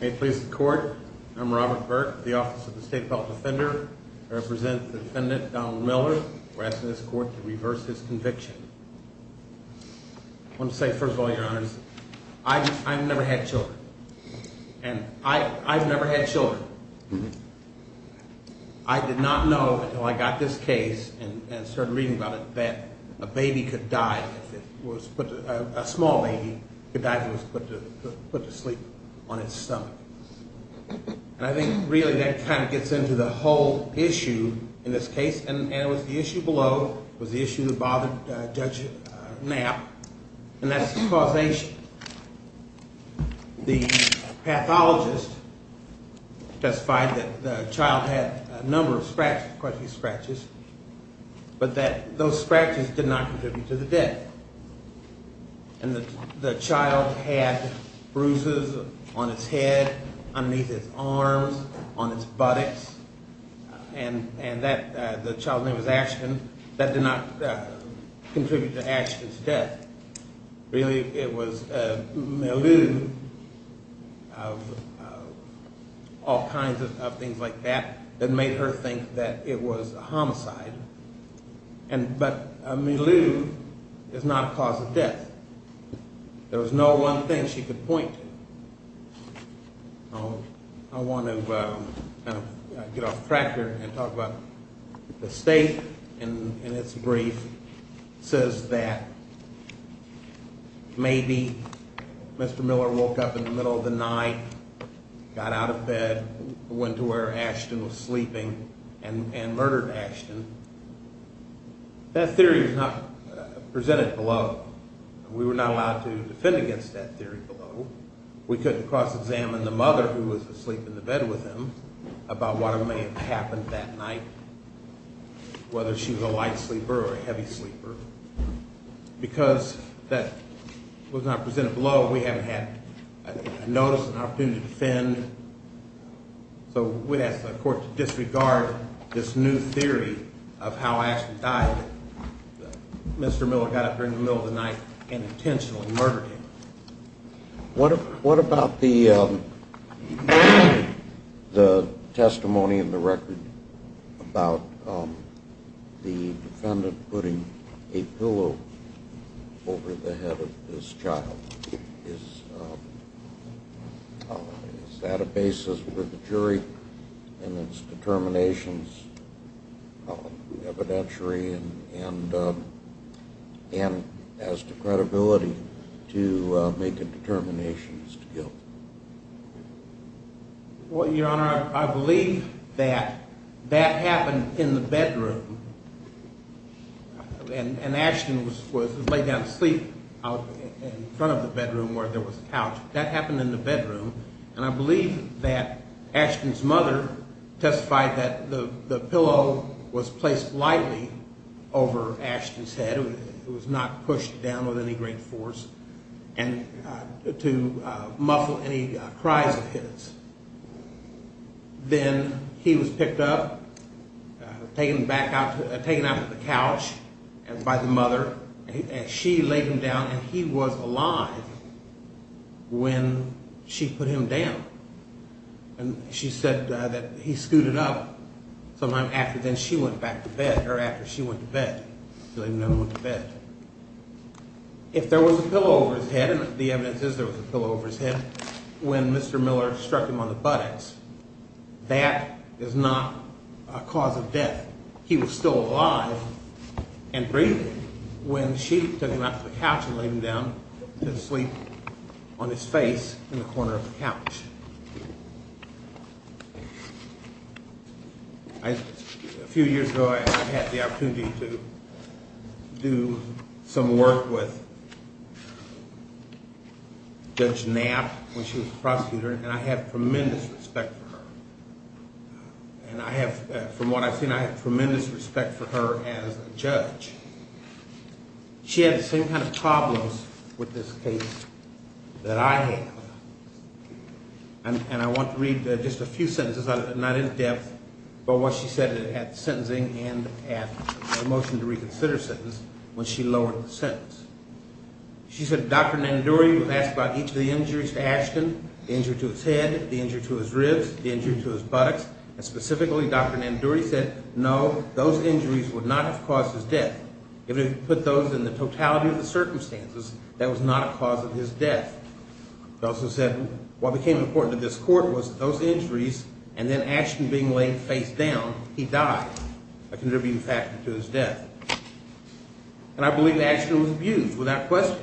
May it please the Court, I'm Robert Burke, the Office of the State Defense Defender. I represent the defendant Donald Miller. We're asking this Court to reverse his conviction. I want to say, first of all, Your Honors, I've never had children. And I've never had children. I did not know until I got this case and started reading about it that a baby could die if it was put – a small baby could die if it was put to sleep on its stomach. And I think really that kind of gets into the whole issue in this case, and it was the issue below, it was the issue that bothered Judge Knapp, and that's causation. The pathologist testified that the child had a number of scratches, quite a few scratches, but that those scratches did not contribute to the death. And the child had bruises on its head, underneath its arms, on its buttocks, and the child's name was Ashton. That did not contribute to Ashton's death. Really, it was Milou, all kinds of things like that, that made her think that it was a homicide. But Milou is not a cause of death. There was no one thing she could point to. I want to kind of get off track here and talk about the state in its brief says that maybe Mr. Miller woke up in the middle of the night, got out of bed, went to where Ashton was sleeping, and murdered Ashton. That theory was not presented below. We were not allowed to defend against that theory below. We couldn't cross-examine the mother who was asleep in the bed with him about what may have happened that night, whether she was a light sleeper or a heavy sleeper. Because that was not presented below, we haven't had a notice, an opportunity to defend. So we'd ask the court to disregard this new theory of how Ashton died, that Mr. Miller got up during the middle of the night and intentionally murdered him. What about the testimony in the record about the defendant putting a pillow over the head of this child? Is that a basis for the jury in its determinations evidentiary and as to credibility to make a determination as to guilt? Well, Your Honor, I believe that that happened in the bedroom. And Ashton was laid down to sleep out in front of the bedroom where there was a couch. That happened in the bedroom. And I believe that Ashton's mother testified that the pillow was placed lightly over Ashton's head. It was not pushed down with any great force to muffle any cries of his. Then he was picked up, taken out of the couch by the mother and she laid him down and he was alive when she put him down. And she said that he scooted up sometime after then she went back to bed, or after she went to bed. If there was a pillow over his head, and the evidence is there was a pillow over his head, when Mr. Miller struck him on the buttocks, that is not a cause of death. He was still alive and breathing when she took him out of the couch and laid him down to sleep on his face in the corner of the couch. A few years ago I had the opportunity to do some work with Judge Knapp when she was a prosecutor and I have tremendous respect for her. And I have, from what I've seen, I have tremendous respect for her as a judge. She had the same kind of problems with this case that I have. And I want to read just a few sentences, not in depth, but what she said at sentencing and at the motion to reconsider sentence when she lowered the sentence. She said Dr. Nandouri would ask about each of the injuries to Ashton, the injury to his head, the injury to his ribs, the injury to his buttocks, and specifically Dr. Nandouri said no, those injuries would not have caused his death. If it had put those in the totality of the circumstances, that was not a cause of his death. She also said what became important to this court was that those injuries and then Ashton being laid face down, he died, a contributing factor to his death. And I believe Ashton was abused without question,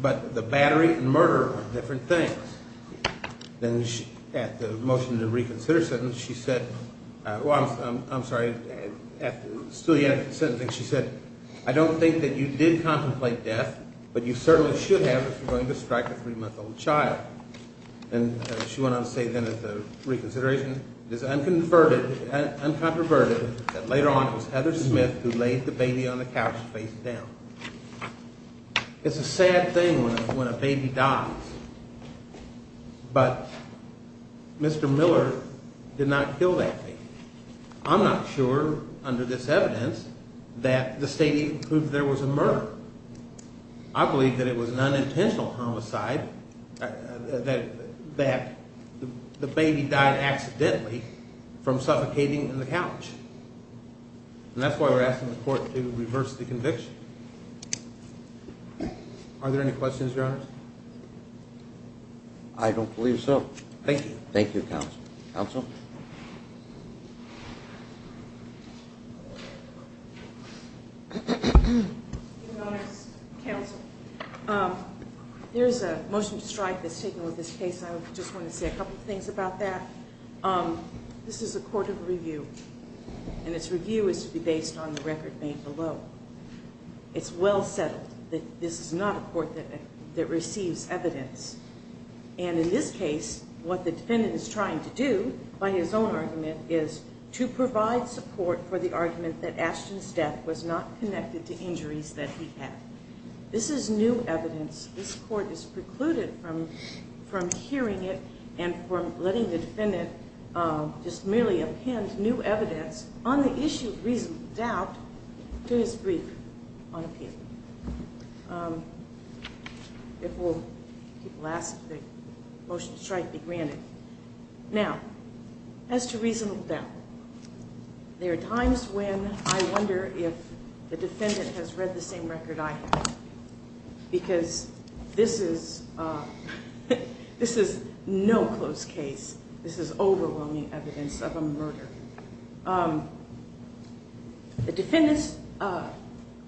but the battery and murder were different things. Then at the motion to reconsider sentence, she said, well, I'm sorry, still yet at the sentencing, she said I don't think that you did contemplate death, but you certainly should have if you're going to strike a three-month-old child. And she went on to say then at the reconsideration, it is unconverted, uncontroverted that later on it was Heather Smith who laid the baby on the couch face down. It's a sad thing when a baby dies, but Mr. Miller did not kill that baby. I'm not sure under this evidence that the state even proved there was a murder. I believe that it was an unintentional homicide that the baby died accidentally from suffocating on the couch. And that's why we're asking the court to reverse the conviction. Are there any questions, Your Honor? I don't believe so. Thank you. Thank you, Counsel. Counsel? There's a motion to strike that's taken with this case. I just want to say a couple of things about that. This is a court of review, and its review is to be based on the record made below. It's well settled that this is not a court that receives evidence. And in this case, what the defendant is trying to do by his own argument is to provide support for the argument that Ashton's death was not connected to injuries that he had. This is new evidence. This court is precluded from hearing it and from letting the defendant just merely append new evidence on the issue of reasonable doubt to his brief on appeal. If people ask, the motion to strike be granted. Now, as to reasonable doubt, there are times when I wonder if the defendant has read the same record I have, because this is no close case. This is overwhelming evidence of a murder. The defendant's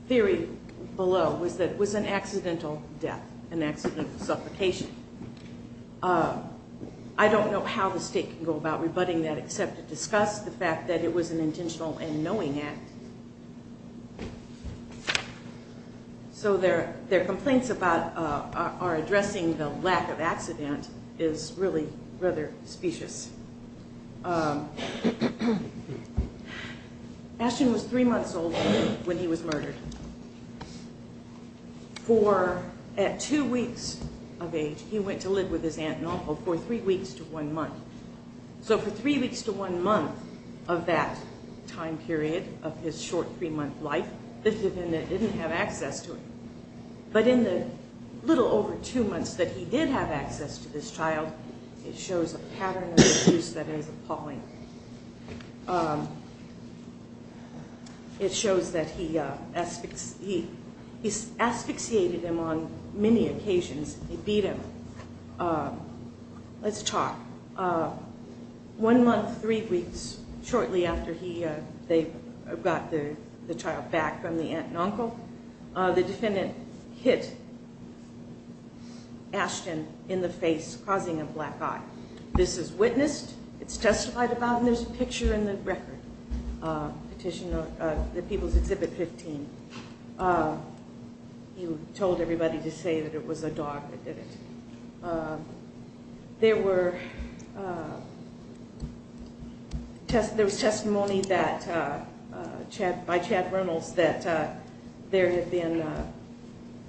theory below was that it was an accidental death, an accidental suffocation. I don't know how the state can go about rebutting that except to discuss the fact that it was an intentional and knowing act. So their complaints about our addressing the lack of accident is really rather specious. Ashton was three months old when he was murdered. At two weeks of age, he went to live with his aunt and uncle for three weeks to one month. So for three weeks to one month of that time period of his short three-month life, the defendant didn't have access to him. But in the little over two months that he did have access to this child, it shows a pattern of abuse that is appalling. It shows that he asphyxiated him on many occasions. He beat him. Let's talk. One month, three weeks shortly after they got the child back from the aunt and uncle, the defendant hit Ashton in the face, causing a black eye. This is witnessed, it's testified about, and there's a picture in the record. The People's Exhibit 15. He told everybody to say that it was a dog that did it. There was testimony by Chad Reynolds that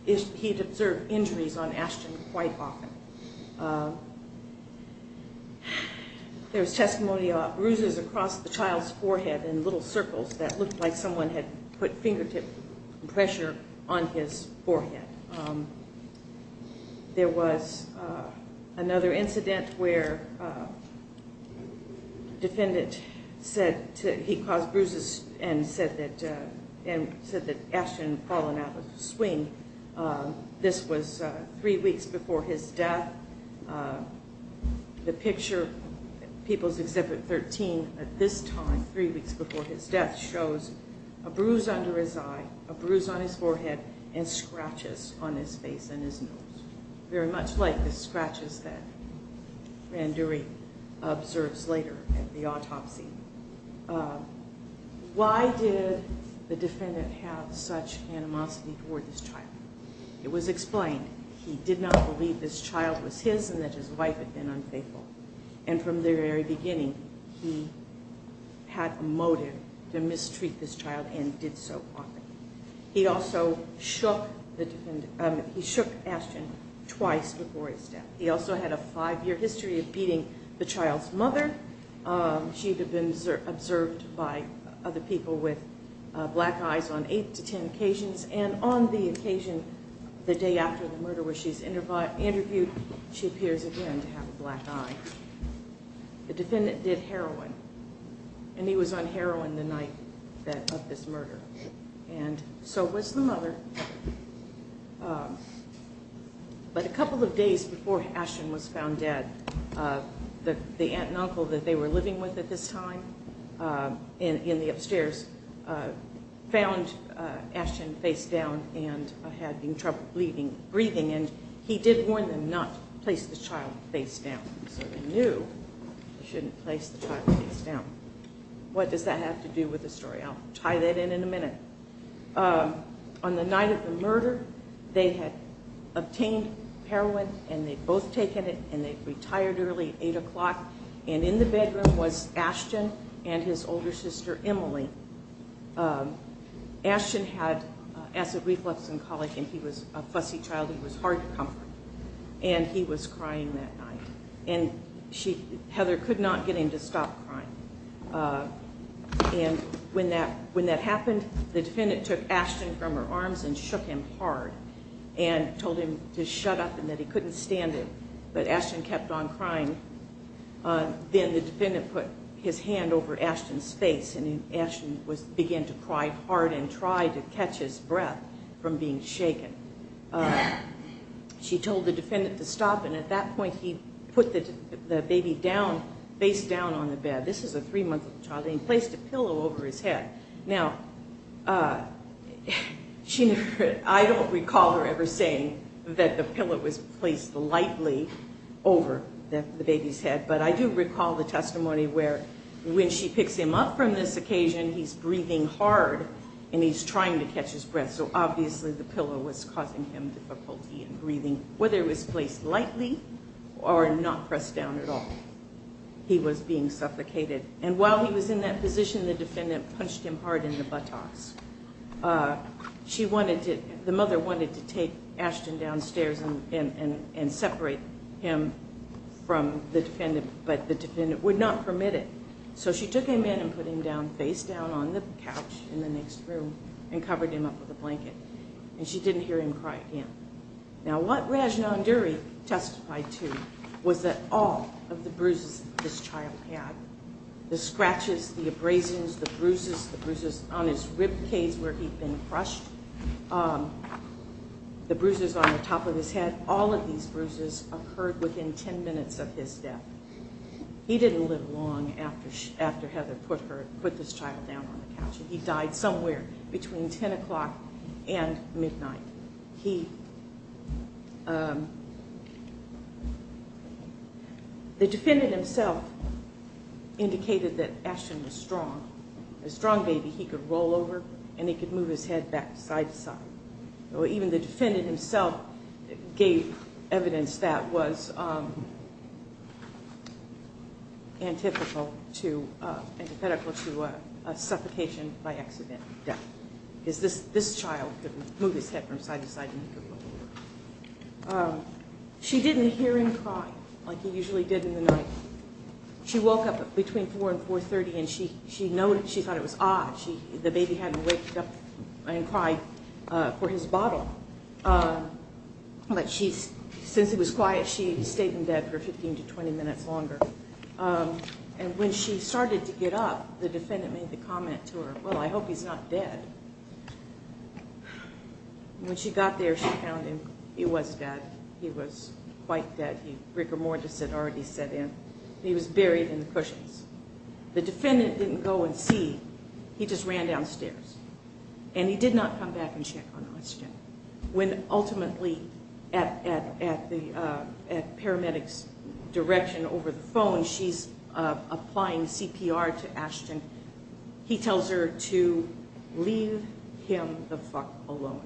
he'd observed injuries on Ashton quite often. There was testimony about bruises across the child's forehead in little circles that looked like someone had put fingertip pressure on his forehead. There was another incident where the defendant said he caused bruises and said that Ashton had fallen out of a swing. This was three weeks before his death. The picture, People's Exhibit 13, at this time, three weeks before his death, shows a bruise under his eye, a bruise on his forehead, and scratches on his face and his nose. Very much like the scratches that Randuri observes later at the autopsy. Why did the defendant have such animosity toward this child? It was explained. He did not believe this child was his and that his wife had been unfaithful. And from the very beginning, he had a motive to mistreat this child and did so often. He also shook Ashton twice before his death. He also had a five-year history of beating the child's mother. She had been observed by other people with black eyes on eight to ten occasions. And on the occasion, the day after the murder where she's interviewed, she appears again to have a black eye. The defendant did heroin. And he was on heroin the night of this murder. And so was the mother. But a couple of days before Ashton was found dead, the aunt and uncle that they were living with at this time in the upstairs found Ashton face down and had trouble breathing. And he did warn them not to place the child face down. So they knew they shouldn't place the child face down. What does that have to do with the story? I'll tie that in in a minute. On the night of the murder, they had obtained heroin and they'd both taken it and they'd retired early at eight o'clock. And in the bedroom was Ashton and his older sister, Emily. Ashton had acid reflux and colic and he was a fussy child. He was hard to comfort. And he was crying that night. And Heather could not get him to stop crying. And when that happened, the defendant took Ashton from her arms and shook him hard and told him to shut up and that he couldn't stand it. But Ashton kept on crying. Then the defendant put his hand over Ashton's face and Ashton began to cry hard and tried to catch his breath from being shaken. She told the defendant to stop and at that point he put the baby face down on the bed. This is a three-month-old child and he placed a pillow over his head. Now, I don't recall her ever saying that the pillow was placed lightly over the baby's head. But I do recall the testimony where when she picks him up from this occasion, he's breathing hard and he's trying to catch his breath. So obviously the pillow was causing him difficulty in breathing, whether it was placed lightly or not pressed down at all. He was being suffocated. And while he was in that position, the defendant punched him hard in the buttocks. The mother wanted to take Ashton downstairs and separate him from the defendant, but the defendant would not permit it. So she took him in and put him face down on the couch in the next room and covered him up with a blanket. And she didn't hear him cry again. Now, what Raj Nanduri testified to was that all of the bruises this child had, the scratches, the abrasions, the bruises, the bruises on his ribcage where he'd been crushed, the bruises on the top of his head, all of these bruises occurred within ten minutes of his death. He didn't live long after Heather put this child down on the couch. He died somewhere between ten o'clock and midnight. The defendant himself indicated that Ashton was strong. A strong baby, he could roll over and he could move his head back side to side. Even the defendant himself gave evidence that was antithetical to a suffocation by accident. Because this child could move his head from side to side and he could roll over. She didn't hear him cry like he usually did in the night. She woke up between 4 and 4.30 and she thought it was odd. The baby hadn't waked up and cried for his bottle. But since it was quiet, she stayed in bed for 15 to 20 minutes longer. And when she started to get up, the defendant made the comment to her, well, I hope he's not dead. When she got there, she found him. He was dead. He was quite dead. He was buried in the cushions. The defendant didn't go and see. He just ran downstairs. And he did not come back and check on Ashton. When ultimately at paramedics direction over the phone, she's applying CPR to Ashton. He tells her to leave him the fuck alone.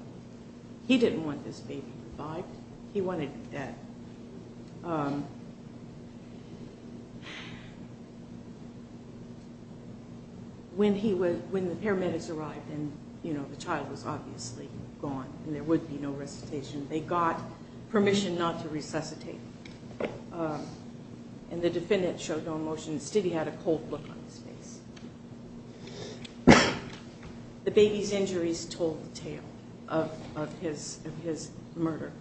He didn't want this baby revived. He wanted him dead. When the paramedics arrived and the child was obviously gone and there would be no resuscitation, they got permission not to resuscitate him. And the defendant showed no emotions. Still, he had a cold look on his face. The baby's injuries told the tale of his murder.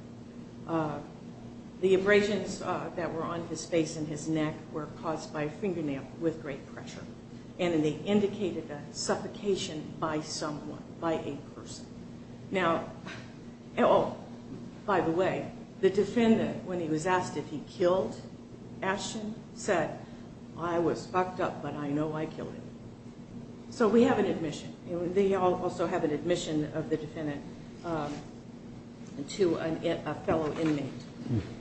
The abrasions that were on his face and his neck were caused by a fingernail with great pressure. And they indicated a suffocation by someone, by a person. Now, oh, by the way, the defendant, when he was asked if he killed Ashton, said, I was fucked up, but I know I killed him. So we have an admission. They also have an admission of the defendant to a fellow inmate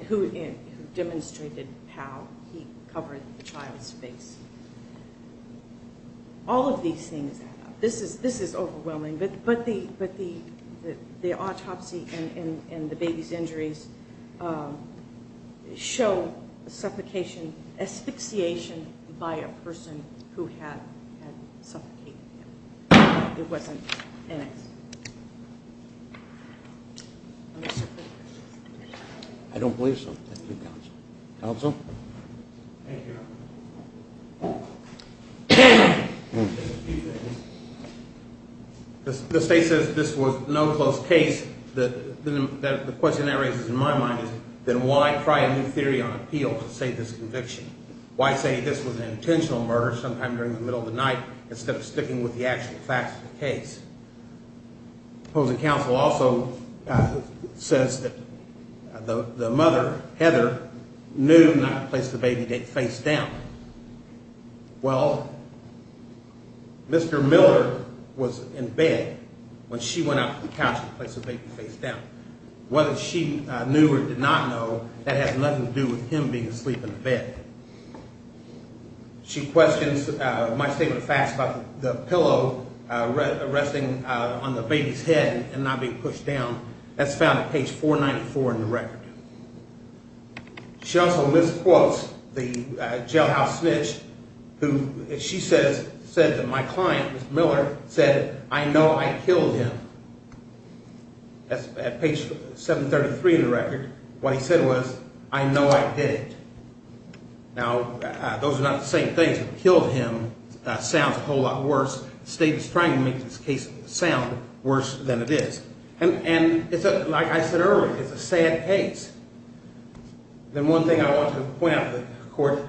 who demonstrated how he covered the child's face. All of these things. This is this is overwhelming. But but the but the the autopsy and the baby's injuries show suffocation, asphyxiation by a person who had suffocated him. It wasn't an accident. I don't believe so. Thank you, Counsel. Counsel. The state says this was no close case. The question that raises in my mind is then why try a new theory on appeal to save this conviction? Why say this was an intentional murder sometime during the middle of the night instead of sticking with the actual facts of the case? Well, the counsel also says that the mother, Heather, knew not to place the baby face down. Well, Mr. Miller was in bed when she went up to the couch to place the baby face down. Whether she knew or did not know, that has nothing to do with him being asleep in the bed. She questions my statement of facts about the pillow resting on the baby's head and not being pushed down. That's found at page 494 in the record. She also misquotes the jailhouse snitch who she says said that my client, Mr. Miller, said, I know I killed him. That's at page 733 in the record. What he said was, I know I did. Now, those are not the same things. Killed him sounds a whole lot worse. The state is trying to make this case sound worse than it is. And like I said earlier, it's a sad case. Then one thing I want to point out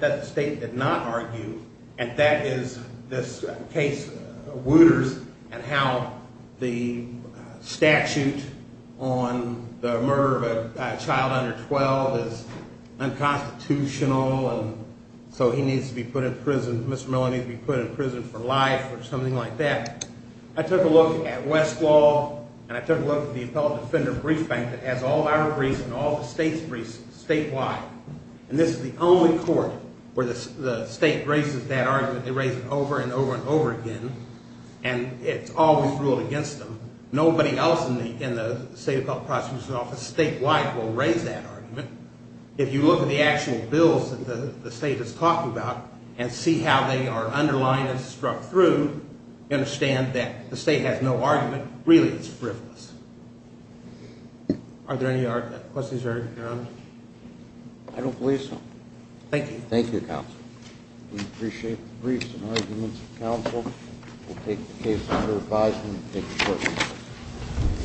that the state did not argue, and that is this case, Wooters, and how the statute on the murder of a child under 12 is unconstitutional and so he needs to be put in prison, Mr. Miller needs to be put in prison for life or something like that. I took a look at Westlaw and I took a look at the Appellate Defender Brief Bank that has all our briefs and all the state's briefs statewide. And this is the only court where the state raises that argument. They raise it over and over and over again. And it's always ruled against them. Nobody else in the State Appellate Prosecutor's Office statewide will raise that argument. If you look at the actual bills that the state is talking about and see how they are underlined and struck through, you understand that the state has no argument. Really, it's frivolous. Are there any other questions, Your Honor? I don't believe so. Thank you. Thank you, Counsel. We appreciate the briefs and arguments of counsel. We'll take the case under advisement and take it to court.